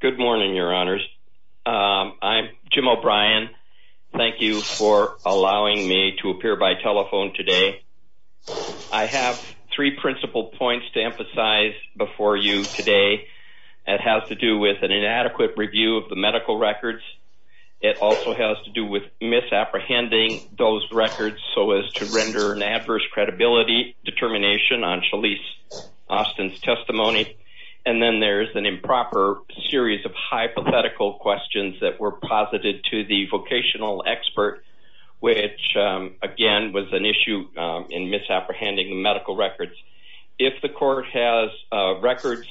Good morning, your honors. I'm Jim O'Brien. Thank you for allowing me to appear by telephone today. I have three principal points to emphasize before you today. It has to do with an inadequate review of the medical records. It also has to do with misapprehending those records so as to render an adverse credibility determination on Shalise Austin's testimony. And then there's an improper series of hypothetical questions that were posited to the vocational expert which again was an issue in misapprehending medical records. If the court has records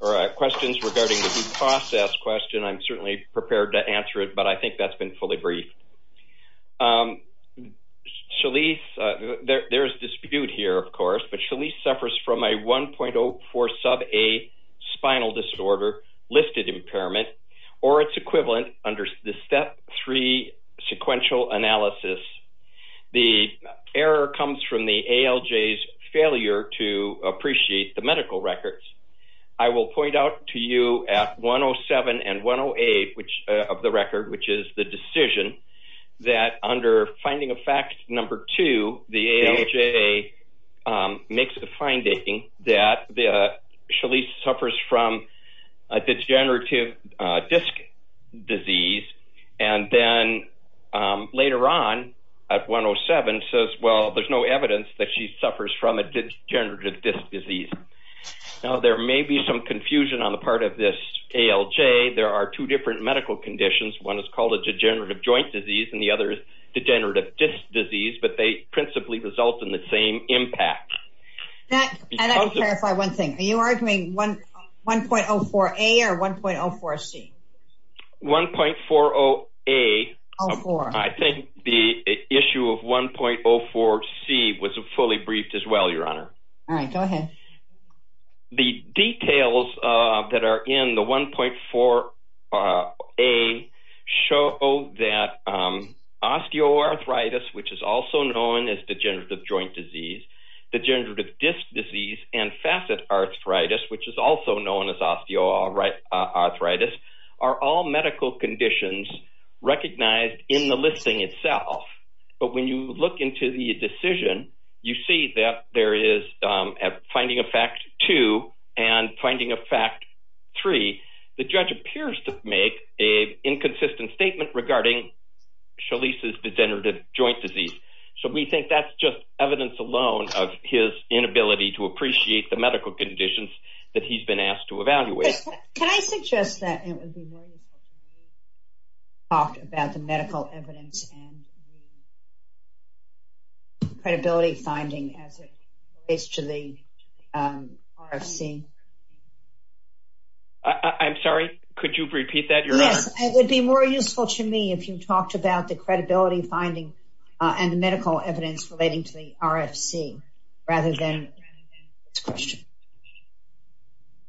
or questions regarding the due process question I'm certainly prepared to answer it but I think that's been fully briefed. Shalise, there's dispute here of course, but Shalise suffers from a 1.04 sub A spinal disorder listed impairment or its equivalent under the step 3 sequential analysis. The error comes from the ALJ's failure to appreciate the medical records. I will point out to you at 107 and 108 of the record which is the decision that under finding of fact number two the ALJ makes the finding that the Shalise suffers from a degenerative disc disease and then later on at 107 says well there's no evidence that she suffers from a degenerative disc disease. Now there may be some confusion on the part of this ALJ. There are two different medical conditions. One is called a degenerative joint disease and the other is degenerative disc disease but they principally result in the same impact. Are you arguing 1.04 A or 1.04 C? 1.40 A. I think the issue of 1.04 C was a fully briefed as well your honor. All right go ahead. The details that are in the 1.4 A show that osteoarthritis which is also known as degenerative joint disease, degenerative disc disease and facet arthritis which is also known as osteoarthritis are all medical conditions recognized in the listing itself but when you look into the decision you see that there is at finding of fact two and finding of fact three the judge appears to make a inconsistent statement regarding Shalise's degenerative joint disease. So we think that's just evidence alone of his inability to appreciate the medical conditions that he's been asked to evaluate. Can I suggest that it would be more useful if you talked about the medical evidence and the credibility finding as it relates to the RFC? I'm sorry could you repeat that your honor? Yes it would be more useful to me if you talked about the evidence relating to the RFC rather than this question.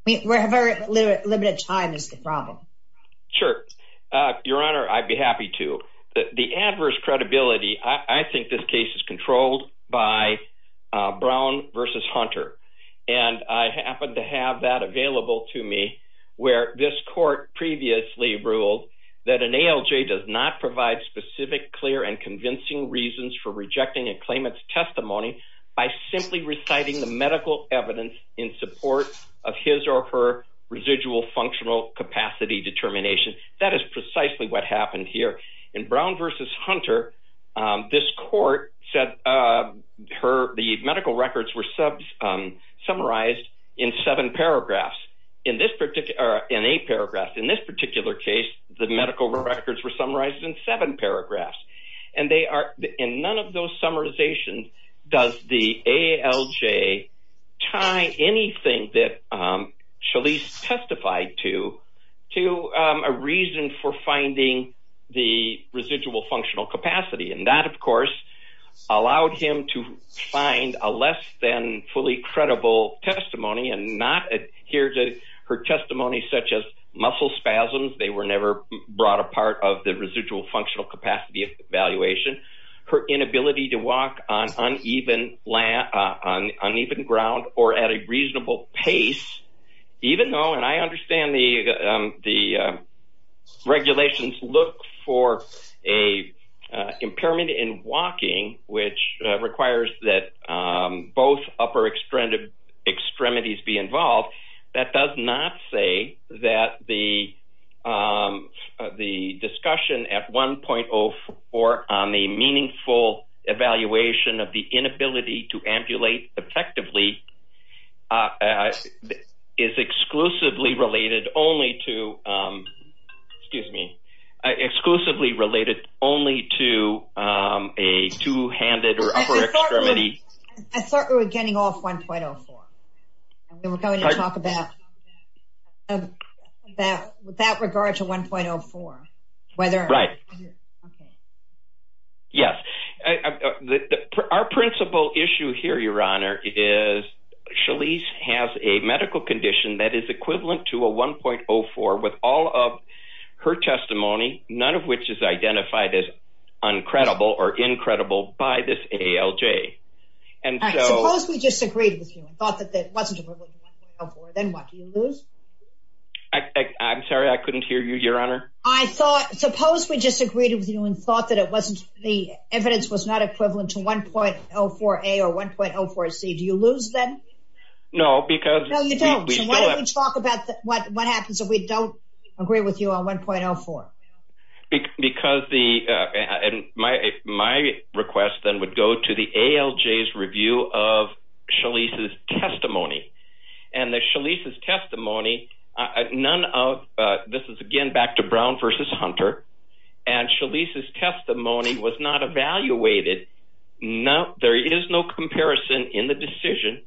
We have a very limited time is the problem. Sure your honor I'd be happy to. The adverse credibility I think this case is controlled by Brown versus Hunter and I happen to have that available to me where this court previously ruled that an ALJ does not provide specific clear and claimant's testimony by simply reciting the medical evidence in support of his or her residual functional capacity determination. That is precisely what happened here in Brown versus Hunter this court said her the medical records were sub summarized in seven paragraphs in this particular in a paragraph in this particular case the medical records were summarized in seven paragraphs and in none of those summarizations does the ALJ tie anything that Shalise testified to to a reason for finding the residual functional capacity and that of course allowed him to find a less than fully credible testimony and not adhere to her testimony such as muscle spasms they were never brought apart of the her inability to walk on uneven land on uneven ground or at a reasonable pace even though and I understand the the regulations look for a impairment in walking which requires that both upper extremities be involved that does not say that the the discussion at 1.04 or on a meaningful evaluation of the inability to ambulate effectively is exclusively related only to excuse me exclusively related only to a two-handed or upper extremity I thought we were getting off 1.04 we're going to talk about that with that regard to 1.04 whether right yes our principal issue here your honor is Shalise has a medical condition that is equivalent to a 1.04 with all of her testimony none of which is identified as uncredible or incredible by this ALJ and I'm sorry I couldn't hear you your honor I thought suppose we just agreed with you and thought that it wasn't the evidence was not equivalent to 1.04 a or 1.04 C do you lose them no because we don't talk about what what happens if we don't agree with you on 1.04 because the and my my request then would go to the ALJ's review of Shalise's testimony and the Shalise's testimony none of this is again back to Brown versus Hunter and Shalise's testimony was not evaluated no there is no comparison in the decision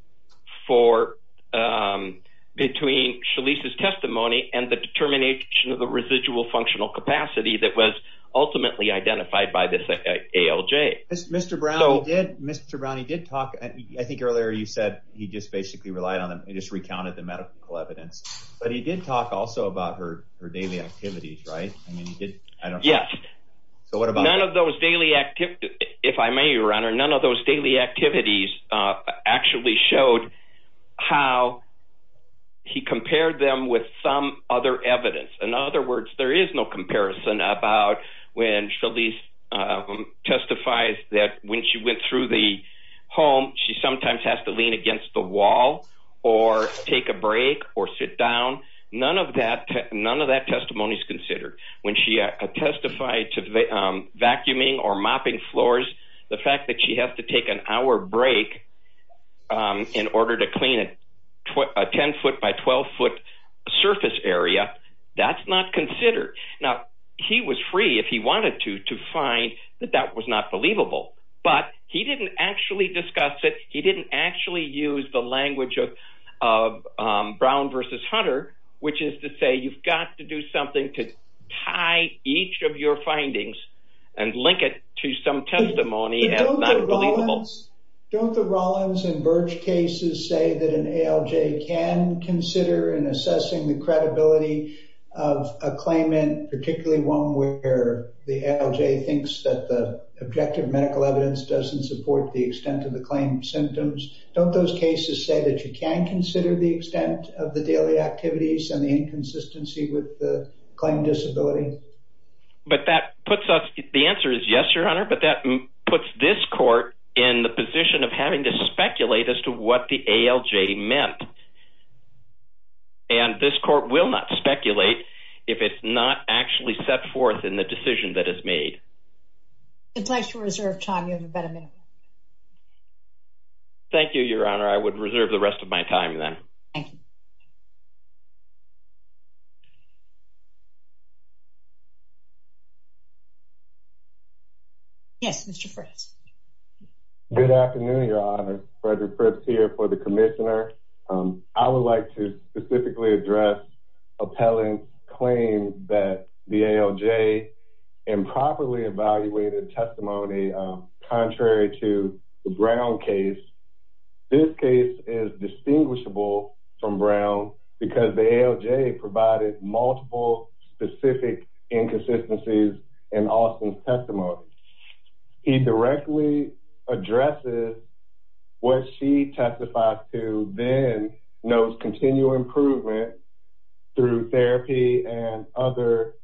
for between Shalise's the residual functional capacity that was ultimately identified by this ALJ mr. Brown did mr. Brown he did talk I think earlier you said he just basically relied on him he just recounted the medical evidence but he did talk also about her her daily activities right I mean he did I don't yeah so what about none of those daily activity if I may your honor none of those daily activities actually showed how he compared them with some other evidence in other words there is no comparison about when Shalise testifies that when she went through the home she sometimes has to lean against the wall or take a break or sit down none of that none of that testimonies considered when she testified to the vacuuming or mopping floors the fact that she has to take an hour break in order to clean it what a 10 foot by 12 foot surface area that's not considered now he was free if he wanted to to find that that was not believable but he didn't actually discuss it he didn't actually use the language of Brown versus Hunter which is to say you've got to do something to tie each of your findings and link it to some testimony don't the Rollins and Birch cases say that an ALJ can consider in assessing the credibility of a claim in particularly one where the ALJ thinks that the objective medical evidence doesn't support the extent of the claim symptoms don't those cases say that you can consider the extent of the daily activities and the inconsistency with the claim disability but that puts us the answer is yes your honor but that puts this court in the position of having to speculate as to what the ALJ meant and this court will not speculate if it's not actually set forth in the decision that is made it's nice to reserve time you have a better minute thank you your honor I would reserve the rest of my time then yes mr. first good afternoon your honor Frederick Fripps here for the Commissioner I would like to specifically address appellant claim that the ALJ improperly evaluated testimony contrary to the Brown case this case is distinguishable from Brown because the ALJ provided multiple specific inconsistencies in Austin's testimony he directly addresses what she testified to then knows continual improvement through therapy and other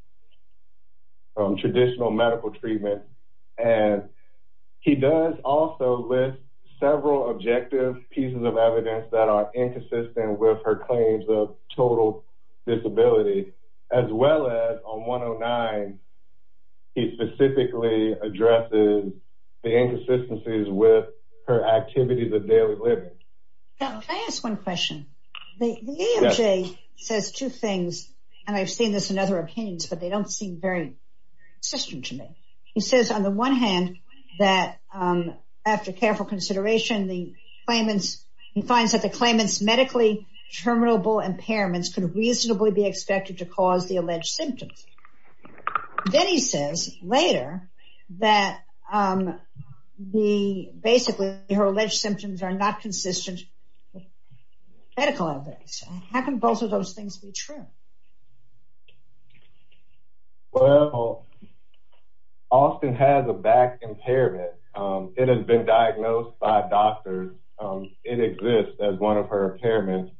traditional medical treatment and he does also list several objective pieces of evidence that are inconsistent with her claims of total disability as well as on 109 he specifically addresses the inconsistencies with her activities of daily living I ask one question the ALJ says two things and I've seen this in other opinions but they don't seem very system to me he says on the one hand that after careful consideration the claimants he finds that the claimants medically terminable impairments could reasonably be expected to cause the alleged symptoms then he says later that the basically her alleged symptoms are not consistent medical evidence how can both of those things be true well Austin has a back impairment it has been diagnosed by doctors it exists as one of her impairments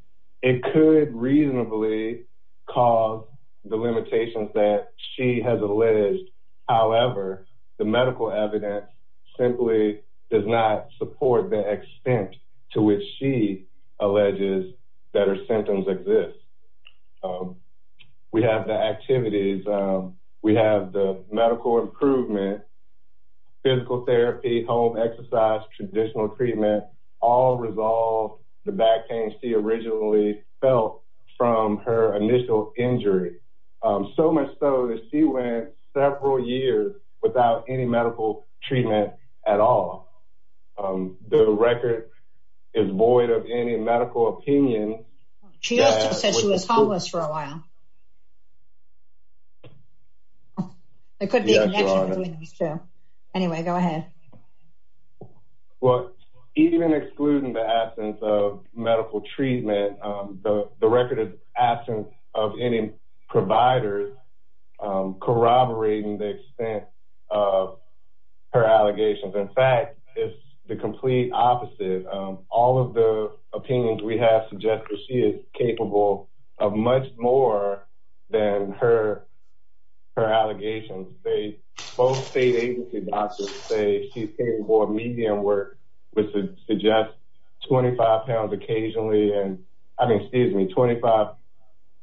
it could reasonably cause the limitations that she has alleged however the medical evidence simply does not support the extent to which she alleges that her symptoms exist we have the activities we have the medical improvement physical therapy home exercise traditional treatment all resolved the back pain she originally felt from her initial injury so much so that she went several years without any medical treatment at all the record is void of any medical opinion she was homeless for a while anyway go ahead well even excluding the absence of medical treatment the record absence of any providers corroborating the extent of her allegations in fact it's the complete opposite of all of the opinions we have suggested she is capable of much more than her her allegations they both state agency doctors say she's more medium work which would suggest 25 pounds occasionally and excuse me 25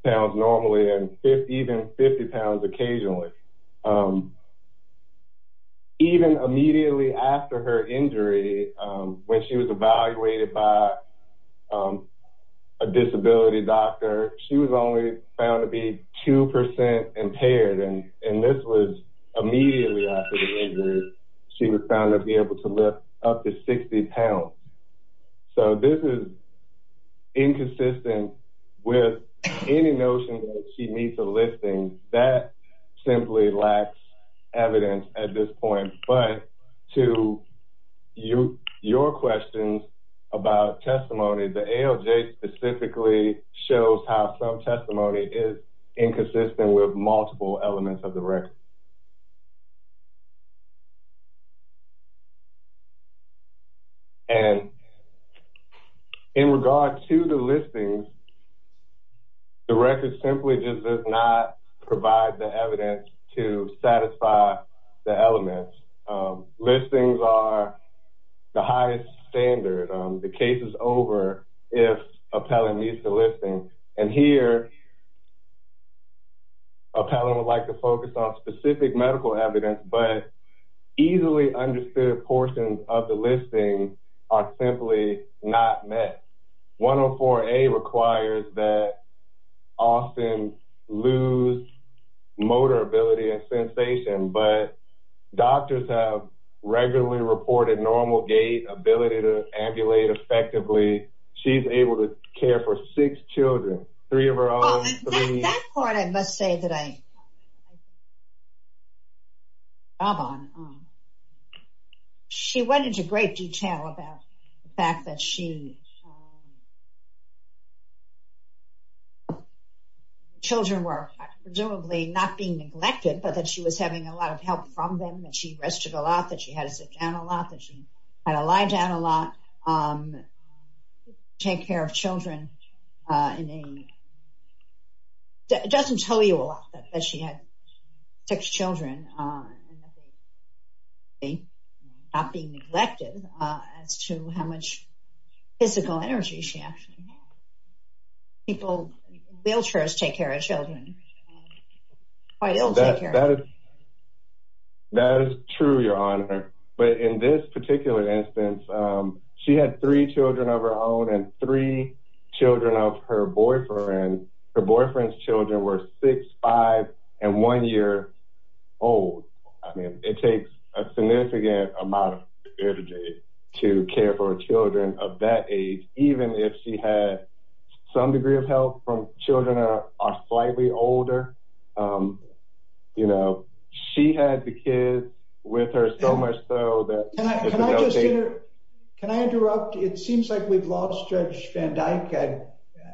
pounds normally and 50 even 50 pounds occasionally even immediately after her injury when she was evaluated by a disability doctor she was only found to be 2% impaired and and this was immediately she was found to be able to lift up to 60 pounds so this is inconsistent with any notion that she needs a listing that simply lacks evidence at this point but to you your questions about testimony the ALJ specifically shows how some testimony is inconsistent with multiple elements of the record and in regard to the listings the record simply does not provide the evidence to satisfy the elements listings are the highest standard the case is over if appellant needs the listing and here appellant would like to focus on specific medical evidence but easily understood portions of the listing are simply not met 104a requires that often lose motor ability and sensation but doctors have regularly reported normal gait ability to ambulate effectively she's able to care for six children she went into great detail about the fact that she children were presumably not being neglected but that she was having a lot of help from them that she rested a lot that she has a lot that she had a lie down a lot take care of children doesn't tell you a lot that she had six children a not being neglected as to how much physical energy she actually people wheelchairs take care of children that is true your honor but in this she had three children of her own and three children of her boyfriend boyfriend's children were 65 and one year old I mean it takes a significant amount of energy to care for children of that age even if she had some degree of health from children are slightly older you know she had the kids with her so that can I interrupt it seems like we've lost judge van Dyck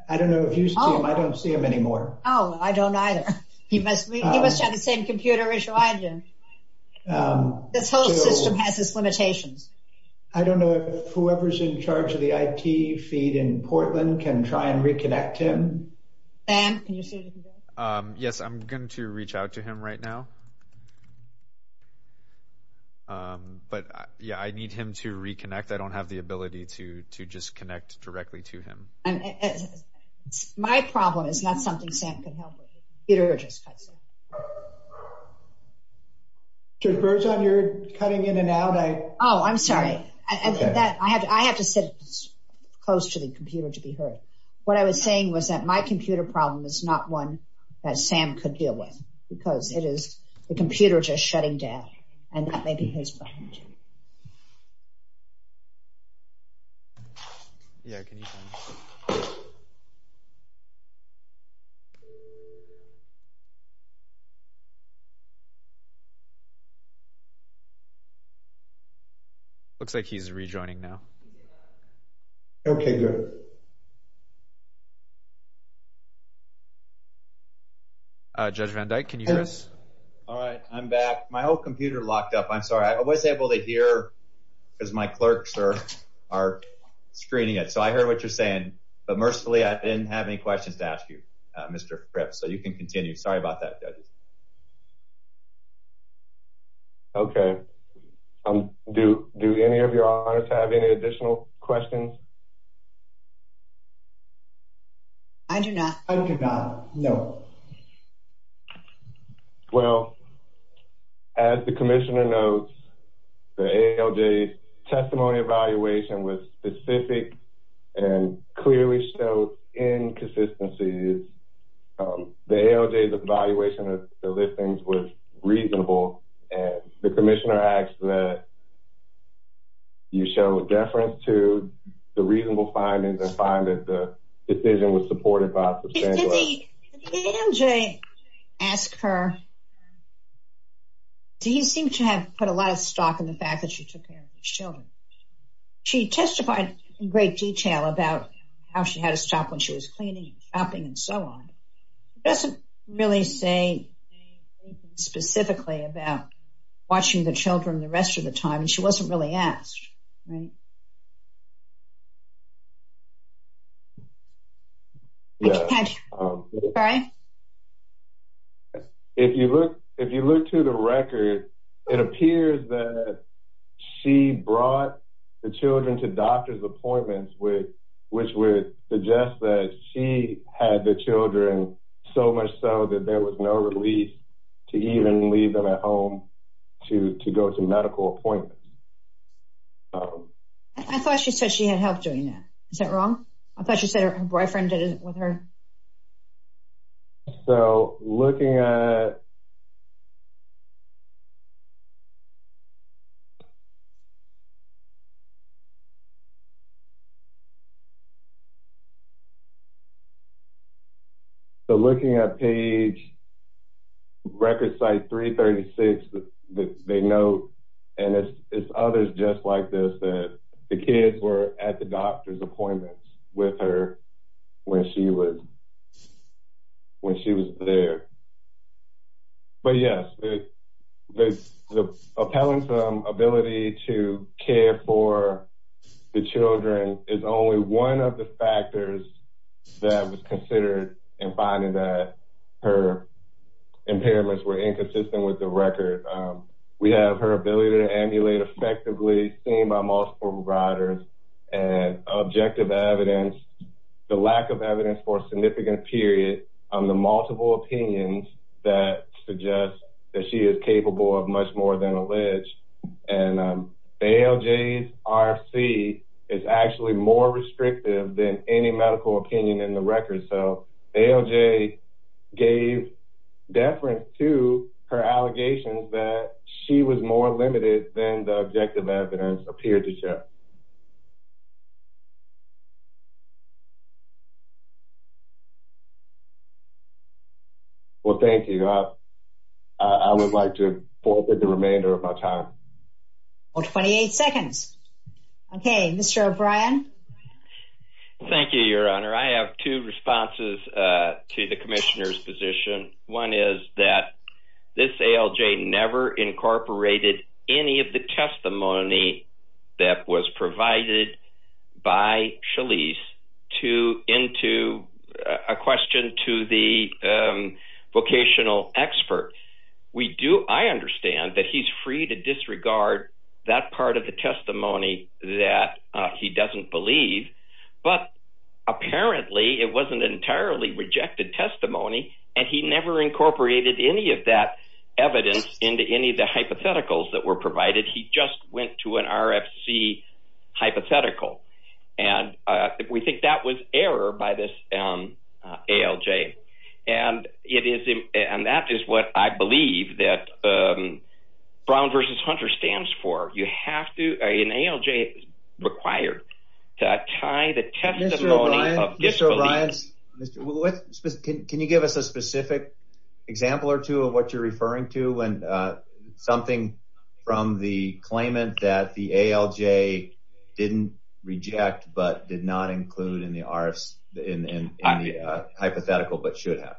I don't know if you saw him I don't see him anymore oh I don't either he must he must have the same computer issue I do this whole system has its limitations I don't know whoever's in charge of the IT feed in Portland can try and reconnect him yes I'm going to reach out to him right now but yeah I need him to reconnect I don't have the ability to to just connect directly to him and my problem is not something Sam can help it urges cuts on your cutting in and out I oh I'm sorry that I have to I have to sit close to the computer to be heard what I was saying was that my computer problem is not one that Sam could deal with because it is the computer just shutting down and that may be his behind looks like he's rejoining now okay good judge van Dyck can you hear us all right I'm back my old computer locked up I'm sorry I was able to hear because my clerks are are screening it so I heard what you're saying but mercifully I didn't have any questions to ask you mr. perhaps so you can continue sorry about that okay I'm do do any of your honors have any additional questions I do not I do not know well as the Commissioner notes the ALJ testimony evaluation was specific and clearly inconsistencies the ALJ's evaluation of the listings was reasonable and the Commissioner acts that you show deference to the reasonable findings and find that the decision was supported by the ALJ ask her do you seem to have put a lot of stock in the fact that she took care of children she testified in detail about how she had to stop when she was cleaning shopping and so on doesn't really say specifically about watching the children the rest of the time and she wasn't really asked if you look if you look to the record it which would suggest that she had the children so much so that there was no relief to even leave them at home to go to medical appointments I thought she said she had help doing that is that wrong I thought you said her boyfriend did it with her so looking at so looking at page record site 336 that they know and it's others just like this that the kids were at the doctor's appointments with her when she was when she was there but yes the appellant's ability to care for the children is only one of the factors that was considered and finding that her impairments were inconsistent with the record we have her ability to emulate effectively seen by multiple providers and objective evidence the lack of evidence for a significant period on the multiple opinions that suggests that she is capable of much more than alleged and ALJ's RFC is actually more restrictive than any medical opinion in the record so ALJ gave deference to her allegations that she was more limited than the objective evidence appeared to remainder of my time 28 seconds okay mr. O'Brien thank you your honor I have two responses to the commissioners position one is that this ALJ never incorporated any of the testimony that was provided by Charlize to into a question to the vocational expert we do I understand that he's free to disregard that part of the testimony that he doesn't believe but apparently it wasn't entirely rejected testimony and he never incorporated any of that evidence into any of the hypotheticals that were provided he just went to an RFC hypothetical and we think that was error by this ALJ and it is him and that is what I believe that Brown versus Hunter stands for you have to an ALJ required to tie the testimony of this alliance can you give us a specific example or two of what you're referring to and something from the claimant that the ALJ didn't reject but did not include in the RFC in the hypothetical but should have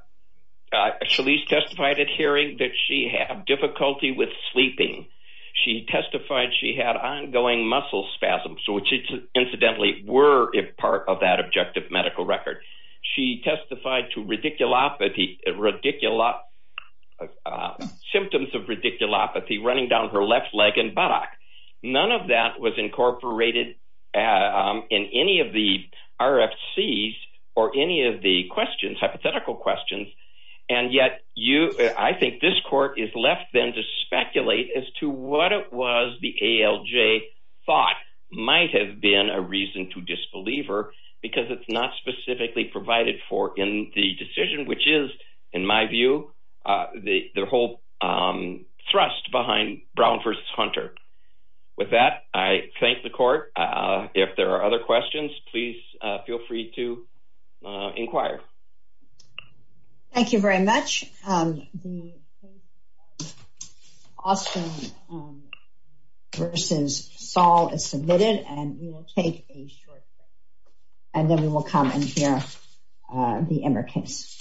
Charlize testified at hearing that she had difficulty with sleeping she testified she had ongoing muscle spasms so which incidentally were if part of that objective medical record she testified to radiculopathy radiculopathy symptoms of radiculopathy running down her left leg and buttock none of that was incorporated in any of the RFC's or any of the questions hypothetical questions and yet you I think this court is left then to speculate as to what it was the ALJ thought might have been a reason to disbeliever because it's not specifically provided for in the decision which is in my view the whole thrust behind Brown versus Hunter with that I thank the court if there are other questions please feel free to inquire thank you very much awesome versus Saul is submitted and we will take a short break and then we will come and hear the Emmer case